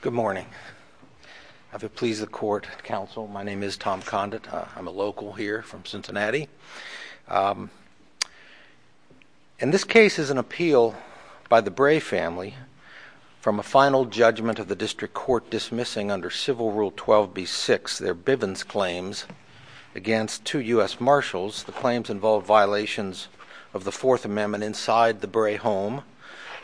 Good morning. I have the pleas of the court, counsel. My name is Tom Condit. I'm a local here from Cincinnati. And this case is an appeal by the Bray family from a final judgment of the district court dismissing under Civil Rule 12b-6 their Bivens claims against two U.S. Marshals. The claims involved violations of the Fourth Amendment inside the Bray home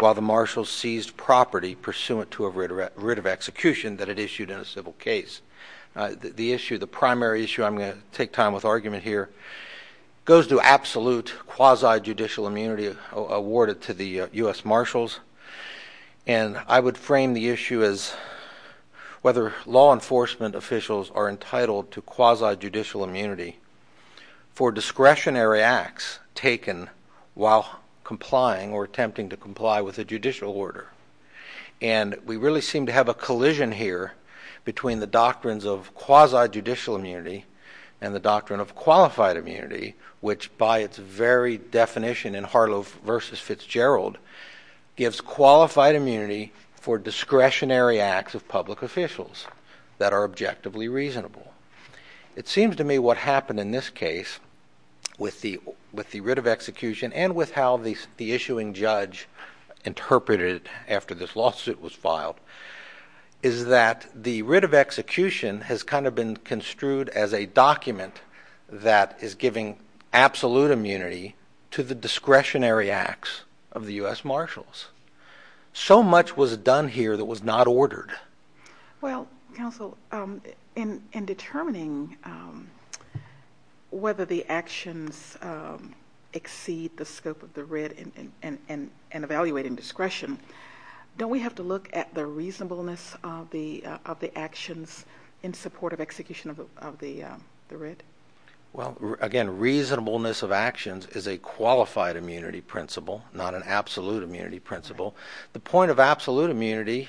while the Marshals seized property pursuant to a writ of execution that it issued in a goes to absolute quasi-judicial immunity awarded to the U.S. Marshals. And I would frame the issue as whether law enforcement officials are entitled to quasi-judicial immunity for discretionary acts taken while complying or attempting to comply with a judicial order. And we really seem to have a collision here between the doctrines of quasi-judicial immunity and the doctrine of qualified immunity, which by its very definition in Harlow v. Fitzgerald gives qualified immunity for discretionary acts of public officials that are objectively reasonable. It seems to me what happened in this case with the writ of execution and with how the issuing judge interpreted it after this lawsuit was filed is that the writ of execution is a document that is giving absolute immunity to the discretionary acts of the U.S. Marshals. So much was done here that was not ordered. Well, counsel, in determining whether the actions exceed the scope of the writ and evaluating discretion, don't we have to look at the reasonableness of the actions in support of execution of the writ? Well, again, reasonableness of actions is a qualified immunity principle, not an absolute immunity principle. The point of absolute immunity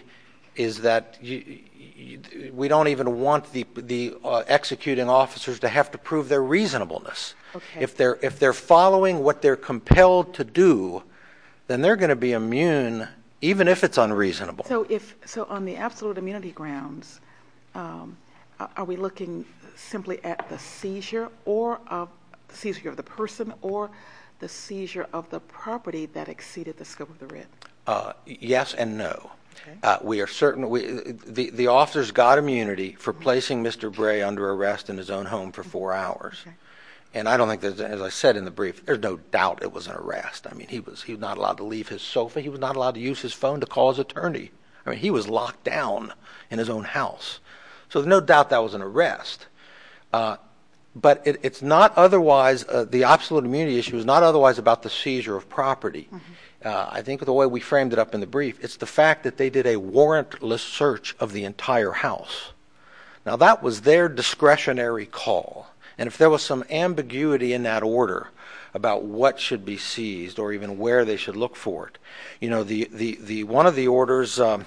is that we don't even want the executing officers to have to prove their reasonableness. If they're following what they're compelled to do, then they're going to be immune even if it's unreasonable. So on the absolute immunity grounds, are we looking simply at the seizure of the person or the seizure of the property that exceeded the scope of the writ? Yes and no. The officer's got immunity for placing Mr. Bray under arrest in his own home for four hours. And I don't think, as I said in the brief, there's no doubt it was an arrest. I mean, he was not allowed to leave his sofa. He was not allowed to use his phone to call his attorney. I mean, he was locked down in his own house. So there's no doubt that was an arrest. But it's not otherwise, the absolute immunity issue is not otherwise about the seizure of property. I think the way we framed it up in the brief, it's the fact that they did a warrantless search of the entire house. Now, that was their discretionary call. And if there was some ambiguity in that order about what should be seized or even where they should look for it, you know, the one of the orders, and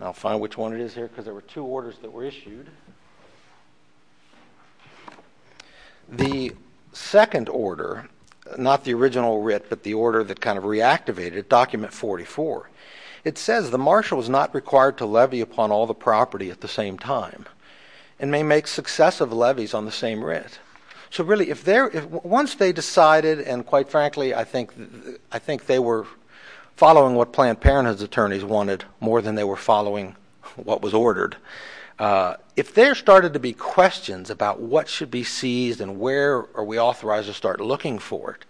I'll find which one it is here because there were two orders that were issued. The second order, not the original writ, but the order that kind of reactivated it, document 44, it says the marshal is not required to levy upon all the property at the same time and may make successive levies on the same writ. So really, once they decided, and quite frankly, I think they were following what Planned Parenthood's attorneys wanted more than they were following what was ordered, if there started to be questions about what should be seized and where are we authorized to start looking for it,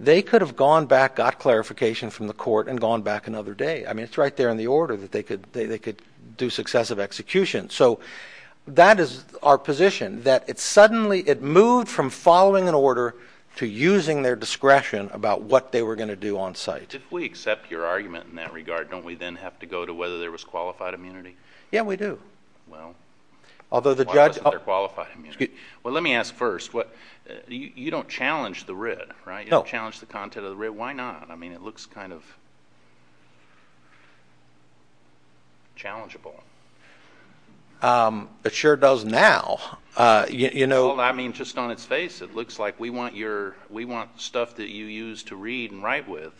they could have gone back, got clarification from the court, and gone back another day. I mean, it's right there in the order that they could do successive executions. So that is our position, that it suddenly, it moved from following an order to using their discretion about what they were going to do on site. If we accept your argument in that regard, don't we then have to go to whether there was qualified immunity? Yeah, we do. Well, why wasn't there qualified immunity? Well, let me ask first, you don't challenge the writ, right? You don't challenge the content of the writ. Why not? I mean, it looks kind of...challengeable. It sure does now, you know. Well, I mean, just on its face, it looks like we want your, we want stuff that you use to read and write with,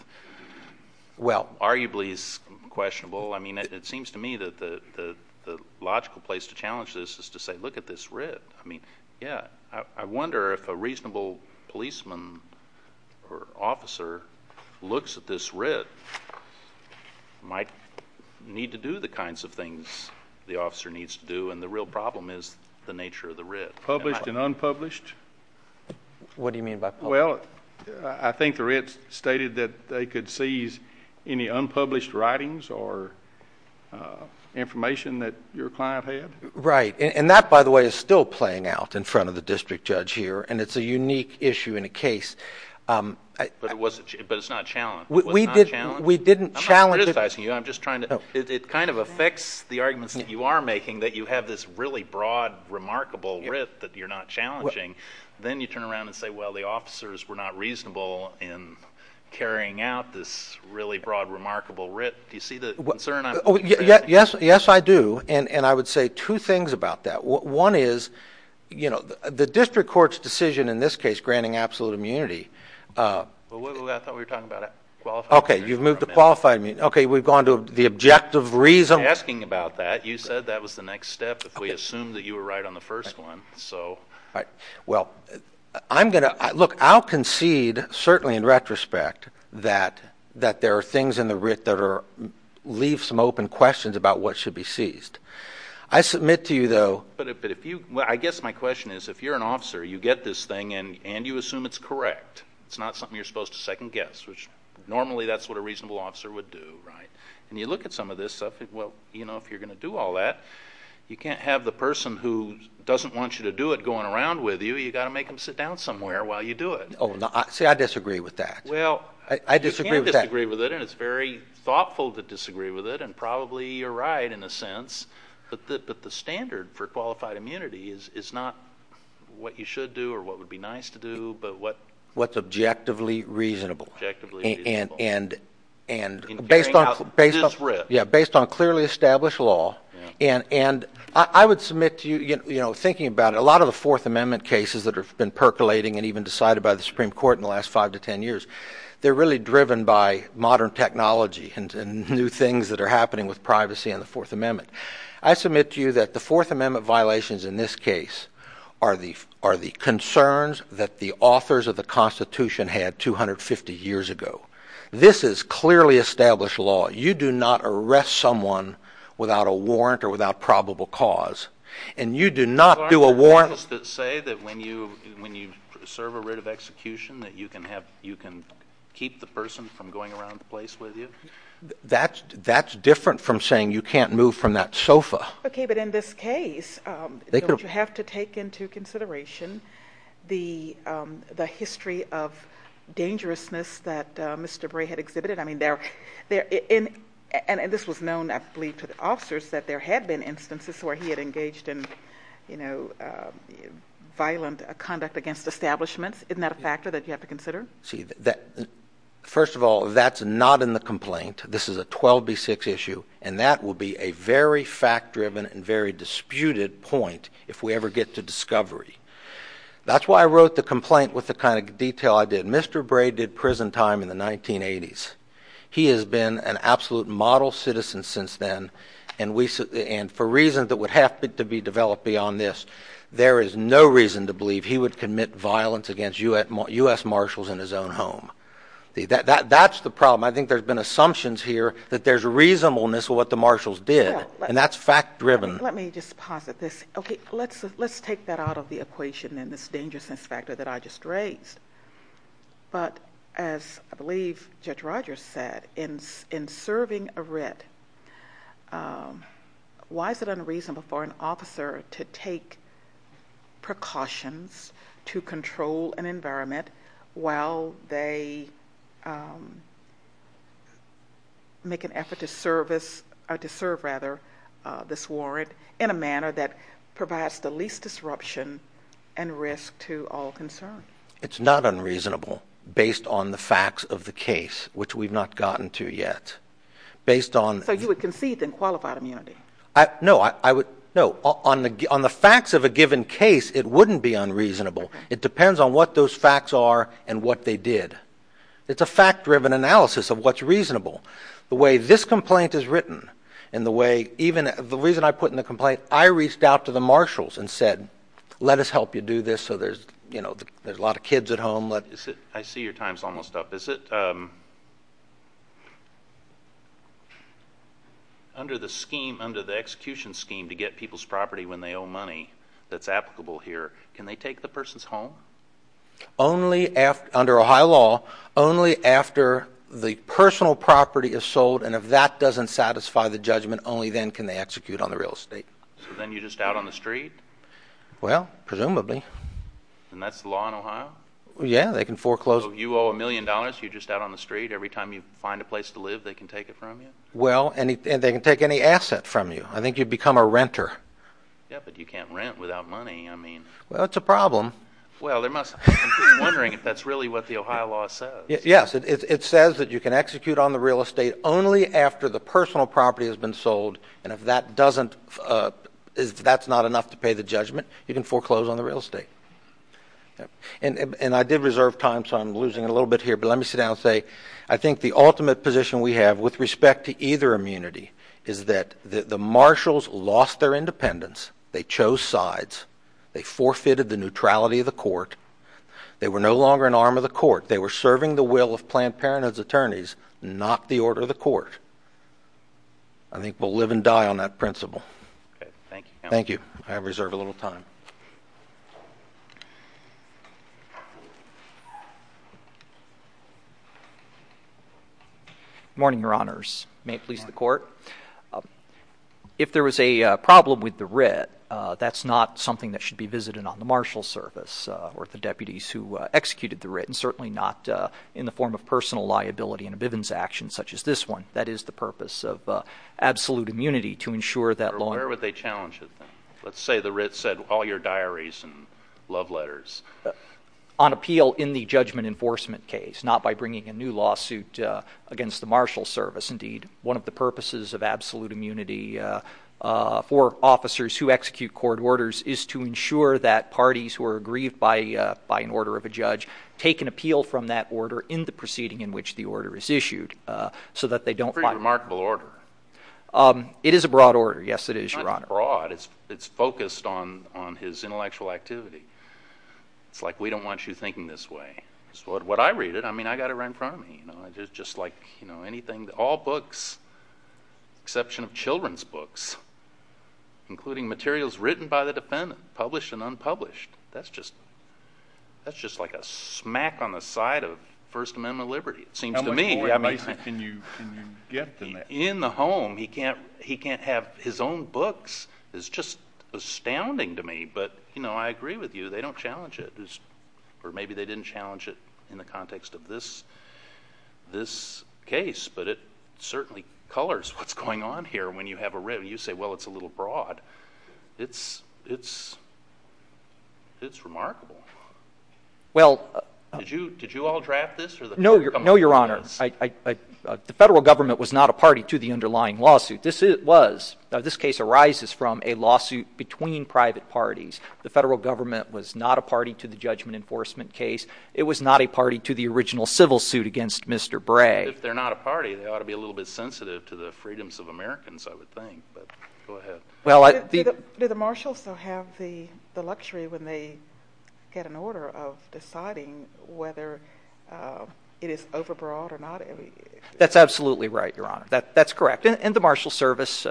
well, arguably is questionable. I mean, it seems to me that the logical place to challenge this is to say, look at this writ. I mean, yeah, I wonder if a reasonable policeman or officer looks at this writ, might need to do the kinds of things the officer needs to do, and the real problem is the nature of the writ. Published and unpublished? What do you mean by published? Well, I think the writ stated that they could seize any unpublished writings or information that your client had. Right. And that, by the way, is still playing out in front of the district judge here, and it's a unique issue in a case. But it's not challenged? We didn't challenge it. I'm not criticizing you. I'm just trying to...it kind of affects the arguments that you are making that you have this really broad, remarkable writ that you're not challenging. Then you turn around and say, well, the officers were not reasonable in carrying out this really Yes, I do. And I would say two things about that. One is, you know, the district court's decision in this case, granting absolute immunity... I thought we were talking about a qualified immunity. Okay, you've moved to qualified immunity. Okay, we've gone to the objective reason... I'm not asking about that. You said that was the next step if we assume that you were right on the first one. Right. Well, I'm going to...look, I'll concede, certainly in retrospect, that there are things in the writ that are...leave some open questions about what should be seized. I submit to you, though... But if you...well, I guess my question is, if you're an officer, you get this thing and you assume it's correct. It's not something you're supposed to second guess, which normally that's what a reasonable officer would do, right? And you look at some of this stuff, well, you know, if you're going to do all that, you can't have the person who doesn't want you to do it going around with you. You've got to make them sit down somewhere while you do it. Oh, no. See, I disagree with that. Well... I disagree with that. Well, I disagree with it, and it's very thoughtful to disagree with it, and probably you're right in a sense, but the standard for qualified immunity is not what you should do or what would be nice to do, but what... What's objectively reasonable. Objectively reasonable. And based on... In carrying out this writ. Yeah, based on clearly established law. And I would submit to you, you know, thinking about it, a lot of the Fourth Amendment cases that have been percolating and even decided by the Supreme Court in the last five to ten years, they're really driven by modern technology and new things that are happening with privacy and the Fourth Amendment. I submit to you that the Fourth Amendment violations in this case are the concerns that the authors of the Constitution had 250 years ago. This is clearly established law. You do not arrest someone without a warrant or without probable cause, and you do not do a warrant... Is there an execution that you can keep the person from going around the place with you? That's different from saying you can't move from that sofa. Okay, but in this case, don't you have to take into consideration the history of dangerousness that Mr. Bray had exhibited? I mean, there... And this was known, I believe, to the officers that there had been instances where he had engaged in, you know, violent conduct against establishments. Isn't that a factor that you have to consider? First of all, that's not in the complaint. This is a 12B6 issue, and that will be a very fact-driven and very disputed point if we ever get to discovery. That's why I wrote the complaint with the kind of detail I did. Mr. Bray did prison time in the 1980s. He has been an absolute model citizen since then, and for reasons that would have to be developed beyond this, there is no reason to believe he would commit violence against U.S. Marshals in his own home. That's the problem. I think there's been assumptions here that there's reasonableness with what the Marshals did, and that's fact-driven. Let me just posit this. Okay, let's take that out of the equation and this dangerousness factor that I just raised. But as I believe Judge Rogers said, in serving a writ, why is it unreasonable for an officer to take precautions to control an environment while they make an effort to serve this warrant in a manner that provides the least disruption and risk to all concerned? It's not unreasonable based on the facts of the case, which we've not gotten to yet. So you would concede then qualified immunity? No. On the facts of a given case, it wouldn't be unreasonable. It depends on what those facts are and what they did. It's a fact-driven analysis of what's reasonable. The way this complaint is written and the way even the reason I put in the complaint, I reached out to the Marshals and said, let us help you do this so there's a lot of kids at home. I see your time's almost up. Is it under the execution scheme to get people's property when they owe money that's applicable here, can they take the person's home? Under Ohio law, only after the personal property is sold, and if that doesn't satisfy the judgment, only then can they execute on the real estate. So then you're just out on the street? Well, presumably. And that's the law in Ohio? Yeah, they can foreclose. So you owe a million dollars, you're just out on the street, every time you find a place to live, they can take it from you? Well, and they can take any asset from you. I think you'd become a renter. Yeah, but you can't rent without money, I mean. Well, it's a problem. Well, I'm just wondering if that's really what the Ohio law says. Yes, it says that you can execute on the real estate only after the personal property has been sold, and if that doesn't, if that's not enough to pay the judgment, you can foreclose on the real estate. And I did reserve time, so I'm losing a little bit here, but let me sit down and say, I think the ultimate position we have with respect to either immunity is that the marshals lost their independence, they chose sides, they forfeited the neutrality of the court, they were no longer an arm of the court, they were serving the will of Planned Parenthood's attorneys, not the order of the court. I think we'll live and die on that principle. Thank you, counsel. Thank you. I reserve a little time. Good morning, Your Honors. May it please the Court? If there was a problem with the writ, that's not something that should be visited on the marshal's service or the deputies who executed the writ, and certainly not in the form of personal liability in a Bivens action such as this one. That is the purpose of absolute immunity, to ensure that law... Where would they challenge it, then? Let's say the writ said, all your diaries and love letters. On appeal in the judgment enforcement case, not by bringing a new lawsuit against the marshal's service. Indeed, one of the purposes of absolute immunity for officers who execute court orders is to ensure that parties who are aggrieved by an order of a judge take an appeal from that order in the proceeding in which the order is issued, so that they don't... Pretty remarkable order. It is a broad order. Yes, it is, Your Honor. It's not broad. It's focused on his intellectual activity. It's like, we don't want you thinking this way. What I read it, I mean, I got it right in front of me. Just like anything, all books, exception of children's books, including materials written by the defendant, published and unpublished. That's just like a smack on the side of First Amendment liberty, it seems to me. How much more advice can you get than that? In the home, he can't have his own books. It's just astounding to me, but I agree with you. They don't challenge it, or maybe they didn't challenge it in the context of this case, but it certainly colors what's going on here when you have a writ. You say, well, it's a little broad. It's remarkable. Did you all draft this? No, Your Honor. The federal government was not a party to the underlying lawsuit. This case arises from a lawsuit between private parties. The federal government was not a party to the judgment enforcement case. It was not a party to the original civil suit against Mr. Bray. If they're not a party, they ought to be a little bit sensitive to the freedoms of Americans, I would think, but go ahead. Do the marshals still have the luxury when they get an order of deciding whether it is overbroad or not? That's absolutely right, Your Honor. That's correct. The Marshal Service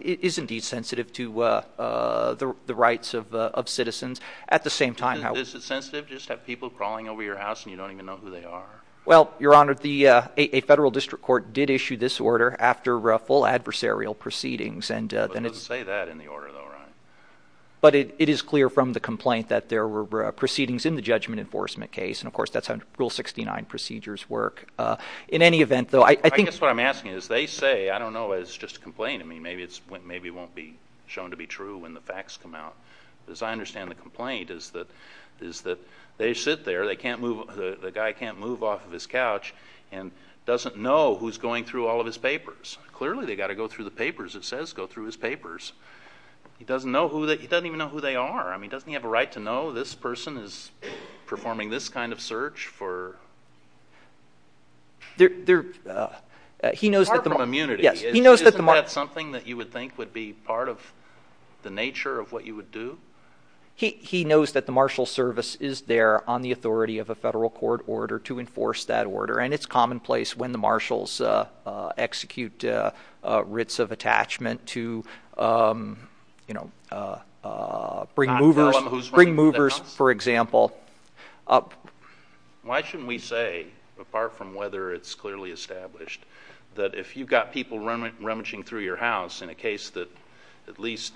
is indeed sensitive to the rights of citizens. At the same time, how— Is it sensitive just to have people crawling over your house and you don't even know who they are? Well, Your Honor, a federal district court did issue this order after full adversarial proceedings and— But it doesn't say that in the order, though, right? But it is clear from the complaint that there were proceedings in the judgment enforcement case and, of course, that's how Rule 69 procedures work. In any event, though, I think— I guess what I'm asking is, they say, I don't know, it's just a complaint. I mean, maybe it won't be shown to be true when the facts come out. As I understand the complaint is that they sit there, the guy can't move off of his couch, and doesn't know who's going through all of his papers. Clearly, they've got to go through the papers. It says go through his papers. He doesn't even know who they are. I mean, doesn't he have a right to know this person is performing this kind of search for— He knows that the— Apart from immunity, isn't that something that you would think would be part of the nature of what you would do? He knows that the marshal service is there on the authority of a federal court order to enforce that order, and it's commonplace when the marshals execute writs of attachment to bring movers, for example— Why shouldn't we say, apart from whether it's clearly established, that if you've got people rummaging through your house in a case that at least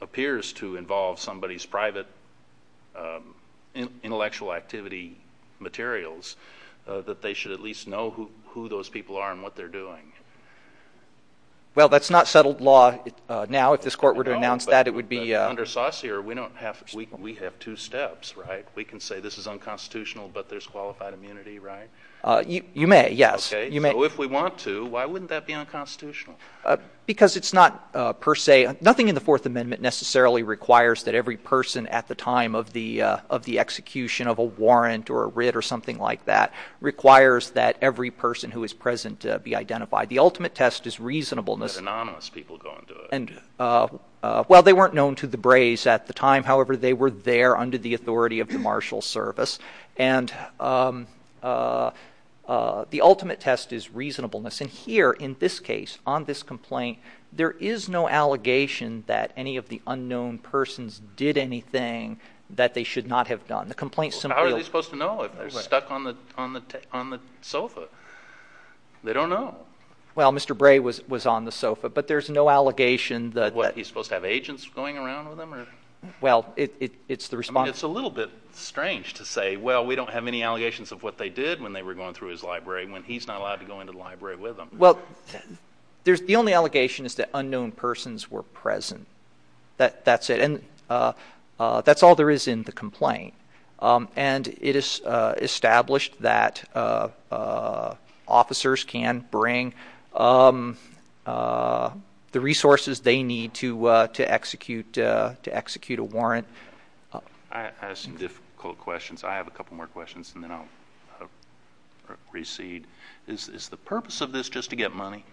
appears to involve somebody's private intellectual activity materials, that they should at least know who those people are and what they're doing? Well, that's not settled law now. If this court were to announce that, it would be— Under Saucere, we have two steps, right? We can say this is unconstitutional, but there's qualified immunity, right? You may, yes. Okay, so if we want to, why wouldn't that be unconstitutional? Because it's not per se—nothing in the Fourth Amendment necessarily requires that every person at the time of the execution of a warrant or a writ or something like that requires that every person who is present be identified. The ultimate test is reasonableness— But anonymous people go and do it. Well, they weren't known to the braze at the time. However, they were there under the authority of the marshal's service. And the ultimate test is reasonableness. And here, in this case, on this complaint, there is no allegation that any of the unknown persons did anything that they should not have done. The complaint simply— How are they supposed to know if they're stuck on the sofa? They don't know. Well, Mr. Bray was on the sofa, but there's no allegation that— What, he's supposed to have agents going around with him? Well, it's the response— It's a little bit strange to say, well, we don't have any allegations of what they did when they were going through his library when he's not allowed to go into the library with them. Well, the only allegation is that unknown persons were present. That's it. And that's all there is in the complaint. And it is established that officers can bring the resources they need to execute a warrant. I have some difficult questions. I have a couple more questions, and then I'll recede. Is the purpose of this just to get money?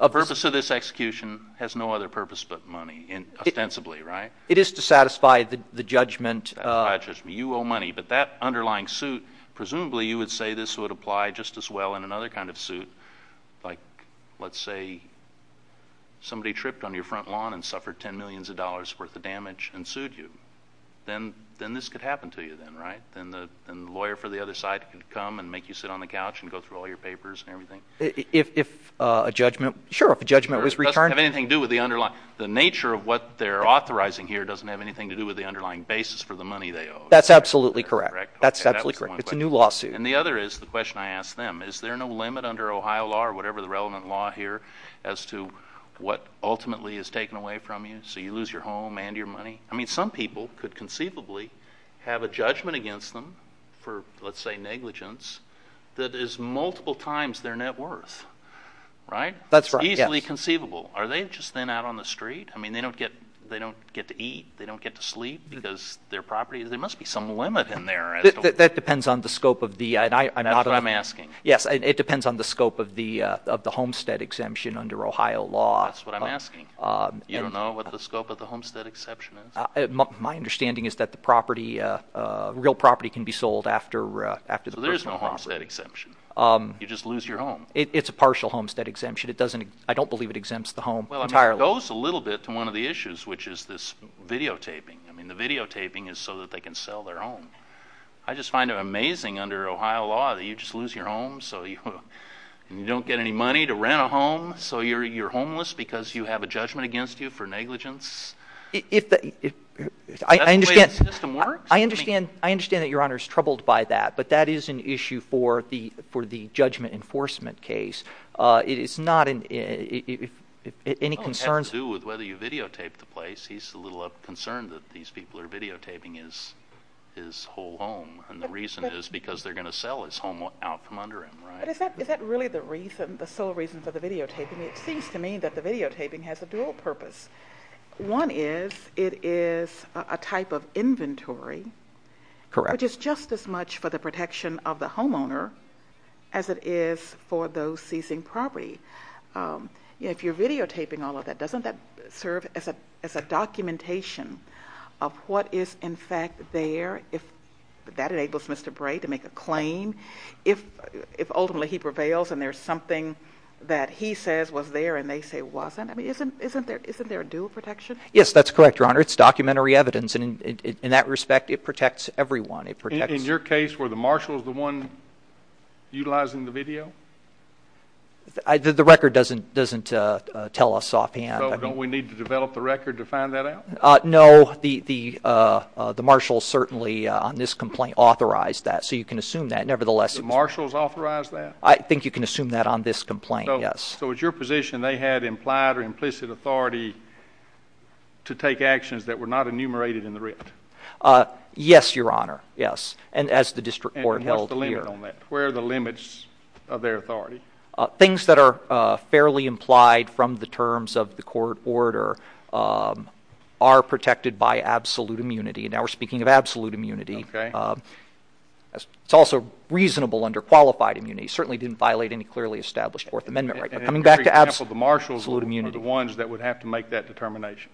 The purpose of this execution has no other purpose but money, ostensibly, right? It is to satisfy the judgment— You owe money. But that underlying suit, presumably you would say this would apply just as well in another kind of suit, like, let's say, somebody tripped on your front lawn and suffered ten millions of dollars worth of damage and sued you. Then this could happen to you, then, right? Then the lawyer for the other side could come and make you sit on the couch and go through all your papers and everything. If a judgment—sure, if a judgment was returned— It doesn't have anything to do with the underlying—the nature of what they're authorizing here doesn't have anything to do with the underlying basis for the money they owe. That's absolutely correct. That's absolutely correct. It's a new lawsuit. And the other is the question I asked them. Is there no limit under Ohio law or whatever the relevant law here as to what ultimately is taken away from you, so you lose your home and your money? I mean, some people could conceivably have a judgment against them for, let's say, negligence that is multiple times their net worth, right? That's right, yes. It's easily conceivable. Are they just then out on the street? I mean, they don't get to eat. They don't get to sleep because their property—there must be some limit in there. That depends on the scope of the— That's what I'm asking. Yes, it depends on the scope of the homestead exemption under Ohio law. That's what I'm asking. You don't know what the scope of the homestead exemption is? My understanding is that the property—real property can be sold after the personal property. So there's no homestead exemption? You just lose your home? It's a partial homestead exemption. It doesn't—I don't believe it exempts the home entirely. Well, I mean, it goes a little bit to one of the issues, which is this videotaping. I mean, the videotaping is so that they can sell their home. I just find it amazing under Ohio law that you just lose your home, so you—and you don't get any money to rent a home, so you're homeless because you have a judgment against you for negligence? If the—I understand— Is that the way the system works? I understand that Your Honor is troubled by that, but that is an issue for the judgment enforcement case. It is not—if any concerns— With whether you videotape the place, he's a little concerned that these people are videotaping his whole home, and the reason is because they're going to sell his home out from under him, right? But is that really the reason, the sole reason for the videotaping? It seems to me that the videotaping has a dual purpose. One is, it is a type of inventory, which is just as much for the protection of the homeowner as it is for those seizing property. If you're going to serve as a documentation of what is, in fact, there, if that enables Mr. Bray to make a claim, if ultimately he prevails and there's something that he says was there and they say it wasn't, I mean, isn't there a dual protection? Yes, that's correct, Your Honor. It's documentary evidence, and in that respect, it protects everyone. It protects— In your case, were the marshals the one utilizing the video? The record doesn't tell us offhand. Don't we need to develop the record to find that out? No, the marshals certainly, on this complaint, authorized that, so you can assume that. Nevertheless— The marshals authorized that? I think you can assume that on this complaint, yes. So it's your position they had implied or implicit authority to take actions that were not enumerated in the writ? Yes, Your Honor, yes, and as the district court held here. And what's the limit on that? Where are the limits of their authority? Things that are fairly implied from the terms of the court order are protected by absolute immunity, and now we're speaking of absolute immunity. It's also reasonable under qualified immunity. It certainly didn't violate any clearly established Fourth Amendment right. But coming back to absolute immunity— For example, the marshals were the ones that would have to make that determination?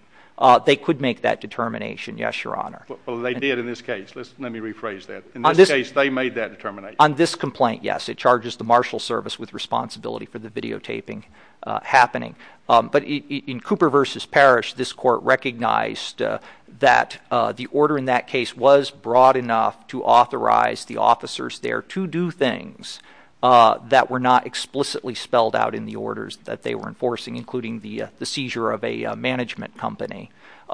They could make that determination, yes, Your Honor. Well, they did in this case. Let me rephrase that. In this case, they made that determination. On this complaint, yes, it charges the marshal service with responsibility for the videotaping happening. But in Cooper v. Parrish, this court recognized that the order in that case was broad enough to authorize the officers there to do things that were not explicitly spelled out in the orders that they were enforcing, including the seizure of a management company.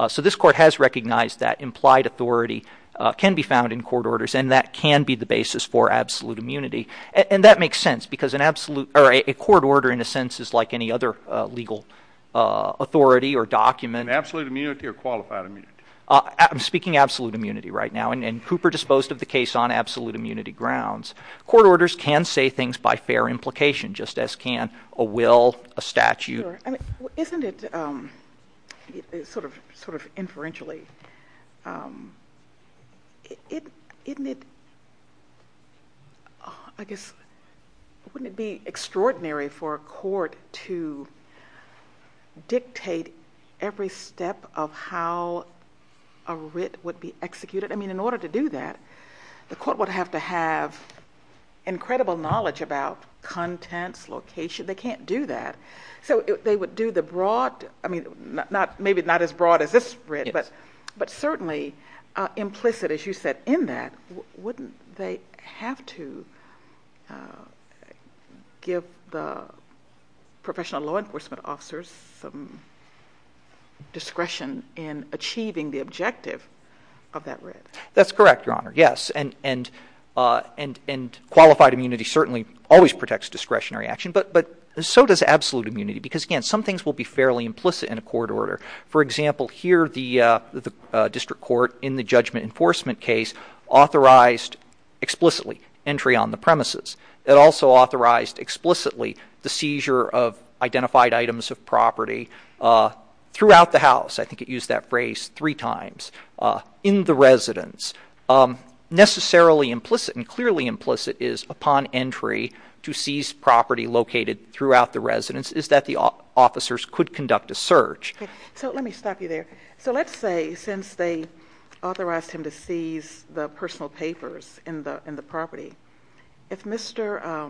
So this court has recognized that implied authority can be found in court orders, and that can be the basis for absolute immunity. And that makes sense, because a court order, in a sense, is like any other legal authority or document. Absolute immunity or qualified immunity? I'm speaking absolute immunity right now, and Cooper disposed of the case on absolute immunity grounds. Court orders can say things by fair implication, just as can a will, a statute. Isn't it, sort of inferentially, wouldn't it be extraordinary for a court to dictate every step of how a writ would be executed? I mean, in order to do that, the court would have to have incredible knowledge about contents, location. They can't do that. So they would do the broad, I mean, maybe not as broad as this writ, but certainly implicit, as you said, in that. Wouldn't they have to give the professional law enforcement officers some discretion in achieving the objective of that writ? That's correct, Your Honor, yes. And qualified immunity certainly always protects discretionary action, but so does absolute immunity, because, again, some things will be fairly implicit in a court order. For example, here the district court, in the judgment enforcement case, authorized explicitly entry on the premises. It also authorized explicitly the seizure of identified items. Necessarily implicit and clearly implicit is, upon entry to seize property located throughout the residence, is that the officers could conduct a search. So let me stop you there. So let's say, since they authorized him to seize the personal papers in the property, if Mr.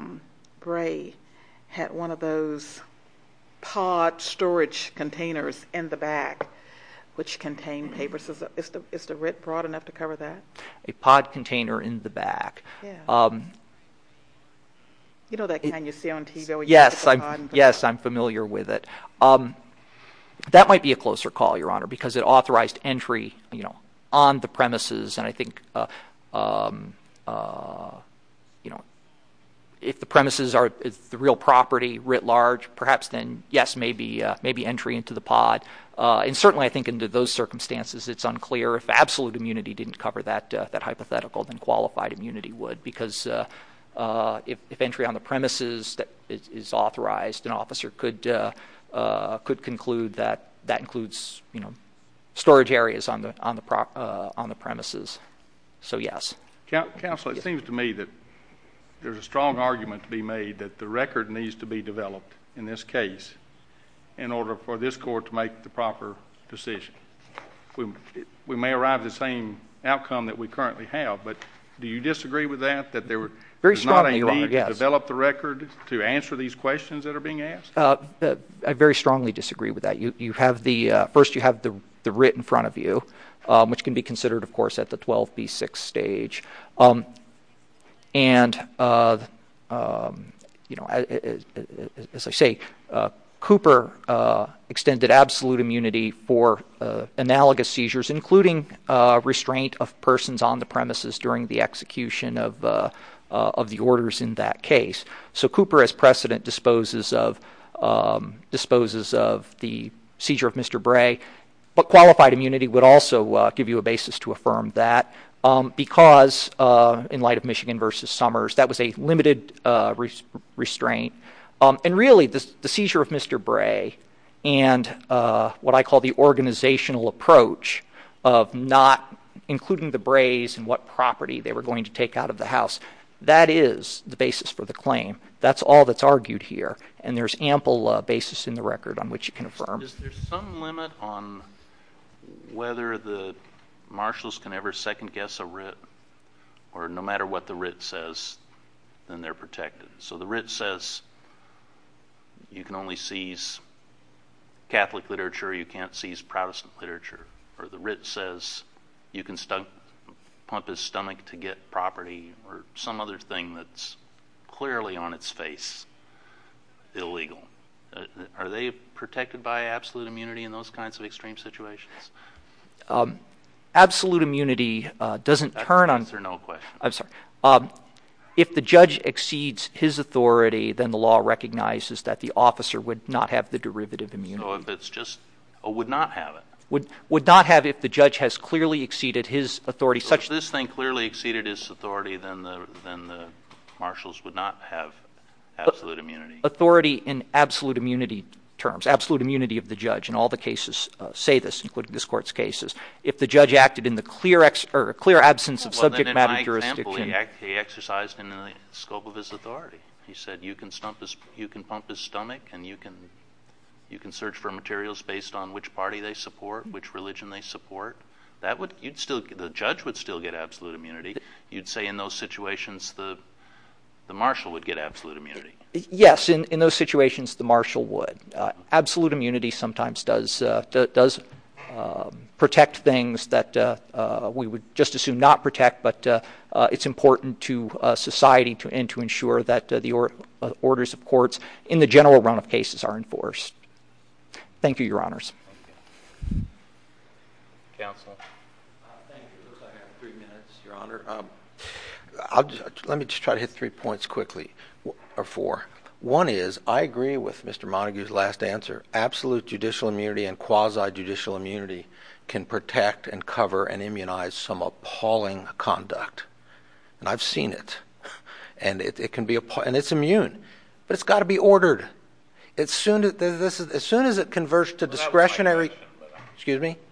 Gray had one of those pod storage containers in the back, which contain papers, is the writ broad enough to cover that? A pod container in the back. Yeah. You know that can you see on TV, when you look at the pod? Yes, I'm familiar with it. That might be a closer call, Your Honor, because it authorized entry on the premises, and I think if the premises are the real property, writ large, perhaps then, yes, maybe entry into the pod. And certainly I think under those circumstances, it's unclear. If absolute immunity didn't cover that hypothetical, then qualified immunity would, because if entry on the premises is authorized, an officer could conclude that that includes storage areas on the premises. So, yes. Counsel, it seems to me that there's a strong argument to be made that the record needs to be developed in this case in order for this court to make the proper decision. We may arrive at the same outcome that we currently have, but do you disagree with that, that there is not a need to develop the record to answer these questions that are being asked? I very strongly disagree with that. First, you have the writ in front of you, which can be considered, of course, at the 12B6 stage. And, you know, as I say, Cooper extended absolute immunity for analogous seizures, including restraint of persons on the premises during the execution of the orders in that case. So Cooper, as precedent, disposes of the seizure of Mr. Bray, but qualified immunity would also give you a basis to affirm that, because in light of Michigan v. Summers, that was a limited restraint. And really, the seizure of Mr. Bray and what I call the organizational approach of not including the Brays and what property they were going to take out of the house, that is the basis for the claim. That's all that's argued here, and there's ample basis in the record on which you can affirm. Is there some limit on whether the marshals can ever second-guess a writ, or no matter what the writ says, then they're protected? So the writ says you can only seize Catholic literature, you can't seize Protestant literature, or the writ says you can pump his stomach to get property or some other thing that's clearly on its face illegal. Are they protected by absolute immunity in those kinds of extreme situations? Absolute immunity doesn't turn on... That's an answer, no question. I'm sorry. If the judge exceeds his authority, then the law recognizes that the officer would not have the derivative immunity. So if it's just, would not have it. Would not have it if the judge has clearly exceeded his authority, such that... So if this thing clearly exceeded his authority, then the marshals would not have absolute immunity. Authority in absolute immunity terms, absolute immunity of the judge, and all the cases say this, including this court's cases. If the judge acted in the clear absence of subject matter jurisdiction... Well, then in my example, he exercised in the scope of his authority. He said you can pump his stomach, and you can search for materials based on which party they support, which religion they support. The judge would still get absolute immunity. You'd say in those situations, the marshal would get absolute immunity. Yes. In those situations, the marshal would. Absolute immunity sometimes does protect things that we would just assume not protect, but it's important to society and to ensure that the orders of courts in the general run of cases are enforced. Thank you, your honors. Counselor? Thank you. It looks like I have three minutes, your honor. Let me just try to hit three points quickly, or four. One is, I agree with Mr. Montague's last answer. Absolute judicial immunity and quasi-judicial immunity can protect and cover and immunize some appalling conduct. I've seen it. It's immune, but it's got to be ordered. As soon as it converts to discretionary.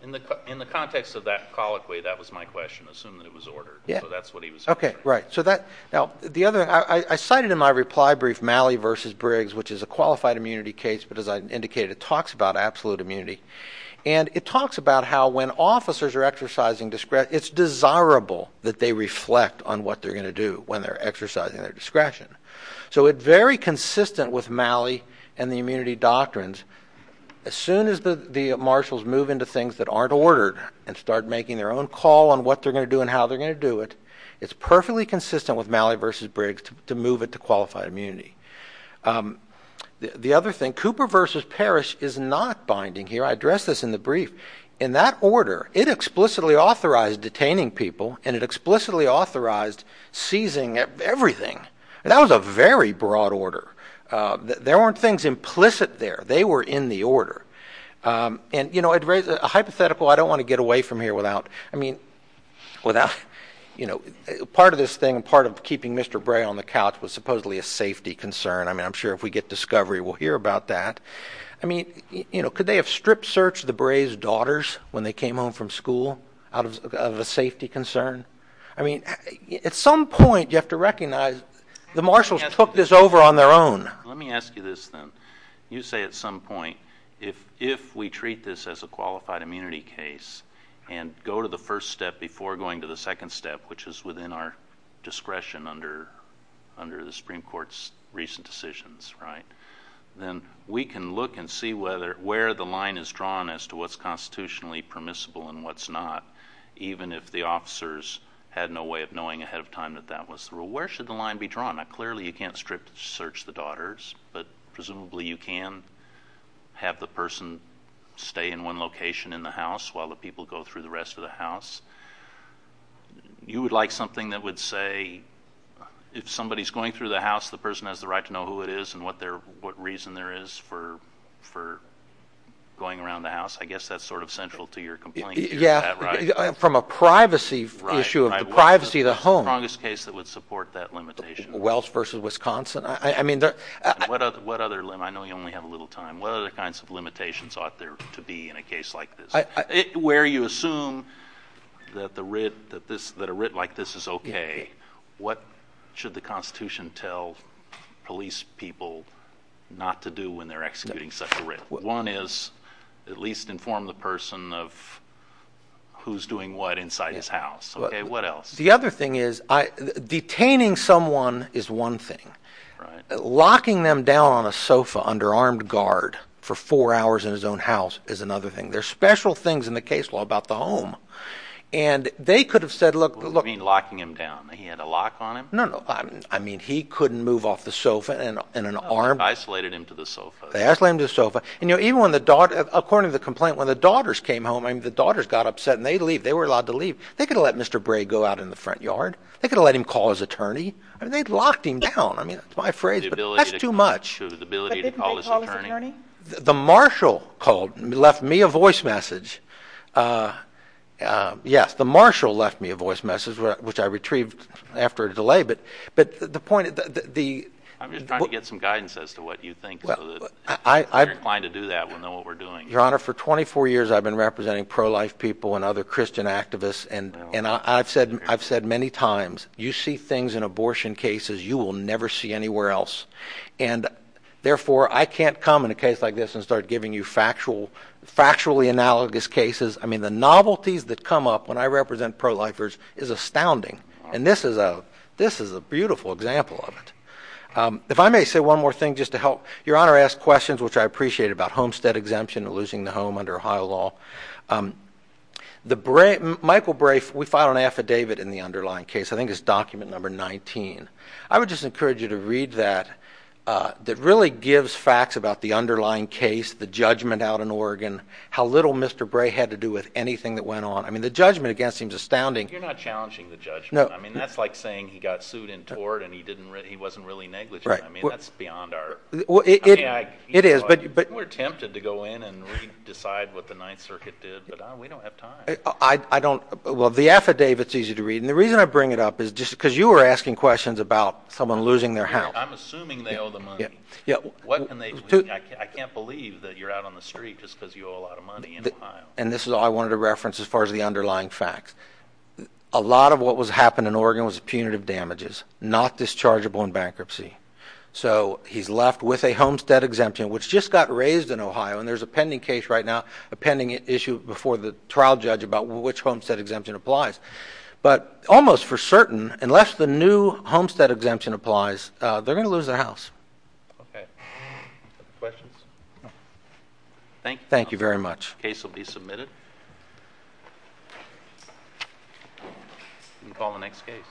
In the context of that colloquy, that was my question. Assume that it was ordered. That's what he was saying. I cited in my reply brief, Malley v. Briggs, which is a qualified immunity case, but as I indicated, it talks about absolute immunity. It talks about how when officers are exercising discretion, it's desirable that they reflect on what they're going to do when they're exercising their discretion. It's very consistent with that. As soon as the marshals move into things that aren't ordered and start making their own call on what they're going to do and how they're going to do it, it's perfectly consistent with Malley v. Briggs to move it to qualified immunity. The other thing, Cooper v. Parrish is not binding here. I addressed this in the brief. In that order, it explicitly authorized detaining people, and it explicitly authorized seizing everything. That was a very broad order. There weren't things implicit there. They were in the order. A hypothetical, I don't want to get away from here without, part of this thing, part of keeping Mr. Bray on the couch was supposedly a safety concern. I'm sure if we get discovery, we'll hear about that. Could they have strip searched the Brays' daughters when they came home from school out of a safety concern? At some point, you have to recognize the marshals took this over on their own. Let me ask you this then. You say at some point, if we treat this as a qualified immunity case and go to the first step before going to the second step, which is within our discretion under the Supreme Court's recent decisions, then we can look and see where the line is drawn as to what's constitutionally permissible and what's not, even if the officers had no way of knowing ahead of time that that was the rule. Where should the line be drawn? Clearly, you can't strip search the daughters, but presumably you can have the person stay in one location in the house while the people go through the rest of the house. You would like something that would say, if somebody's going through the house, the person has the right to know who it is and what reason there is for going around the house. I guess that's sort of central to your complaint. Is that right? From a privacy issue of the privacy of the home. What's the strongest case that would support that limitation? Wells versus Wisconsin. I know you only have a little time. What other kinds of limitations ought there to be in a case like this? Where you assume that a writ like this is okay, what should the Constitution tell police people not to do when they're executing such a writ? One is, at least inform the person of who's doing what inside his house. What else? The other thing is, detaining someone is one thing. Locking them down on a sofa under armed guard for four hours in his own house is another thing. There's special things in the case law about the home. They could have said, look... What do you mean, locking him down? He had a lock on him? No, no. I mean, he couldn't move off the sofa in an armed... They isolated him to the sofa. They isolated him to the sofa. According to the complaint, when the daughters came home, the daughters got upset and they'd leave. They were allowed to leave. They could have let Mr. Bray go out in the front yard. They could have let him call his attorney. I mean, they'd locked him down. I mean, it's my phrase, but that's too much. But didn't they call his attorney? The marshal called and left me a voice message. Yes, the marshal left me a voice message, which I retrieved after a delay, but the point is that the... I'm just trying to get some guidance as to what you think so that if you're inclined to do that, we'll know what we're doing. Your Honor, for 24 years, I've been representing pro-life people and other Christian activists, and I've said many times, you see things in abortion cases you will never see anywhere else, and therefore, I can't come in a case like this and start giving you factually analogous cases. I mean, the novelties that come up when I represent pro-lifers is astounding, and this is a beautiful example of it. If I may say one more thing just to help. Your Honor asked questions, which I appreciate, about homestead exemption and losing the home under Ohio law. Michael Bray, we filed an affidavit in the underlying case. I think it's document number 19. I would just encourage you to read that. That really gives facts about the underlying case, the judgment out in Oregon, how little Mr. Bray had to do with anything that went on. I mean, the judgment against him is astounding. You're not challenging the judgment. I mean, that's like saying he got sued in tort, and he wasn't really negligent. I mean, that's beyond our... Well, it is, but... We don't have time. Well, the affidavit's easy to read, and the reason I bring it up is just because you were asking questions about someone losing their house. I'm assuming they owe the money. I can't believe that you're out on the street just because you owe a lot of money in Ohio. And this is all I wanted to reference as far as the underlying facts. A lot of what was happening in Oregon was punitive damages, not dischargeable in bankruptcy. There's a pending case right now, a pending issue before the trial judge about which homestead exemption applies. But almost for certain, unless the new homestead exemption applies, they're going to lose their house. Okay. Questions? Thank you. Thank you very much. Case will be submitted. You can call the next case.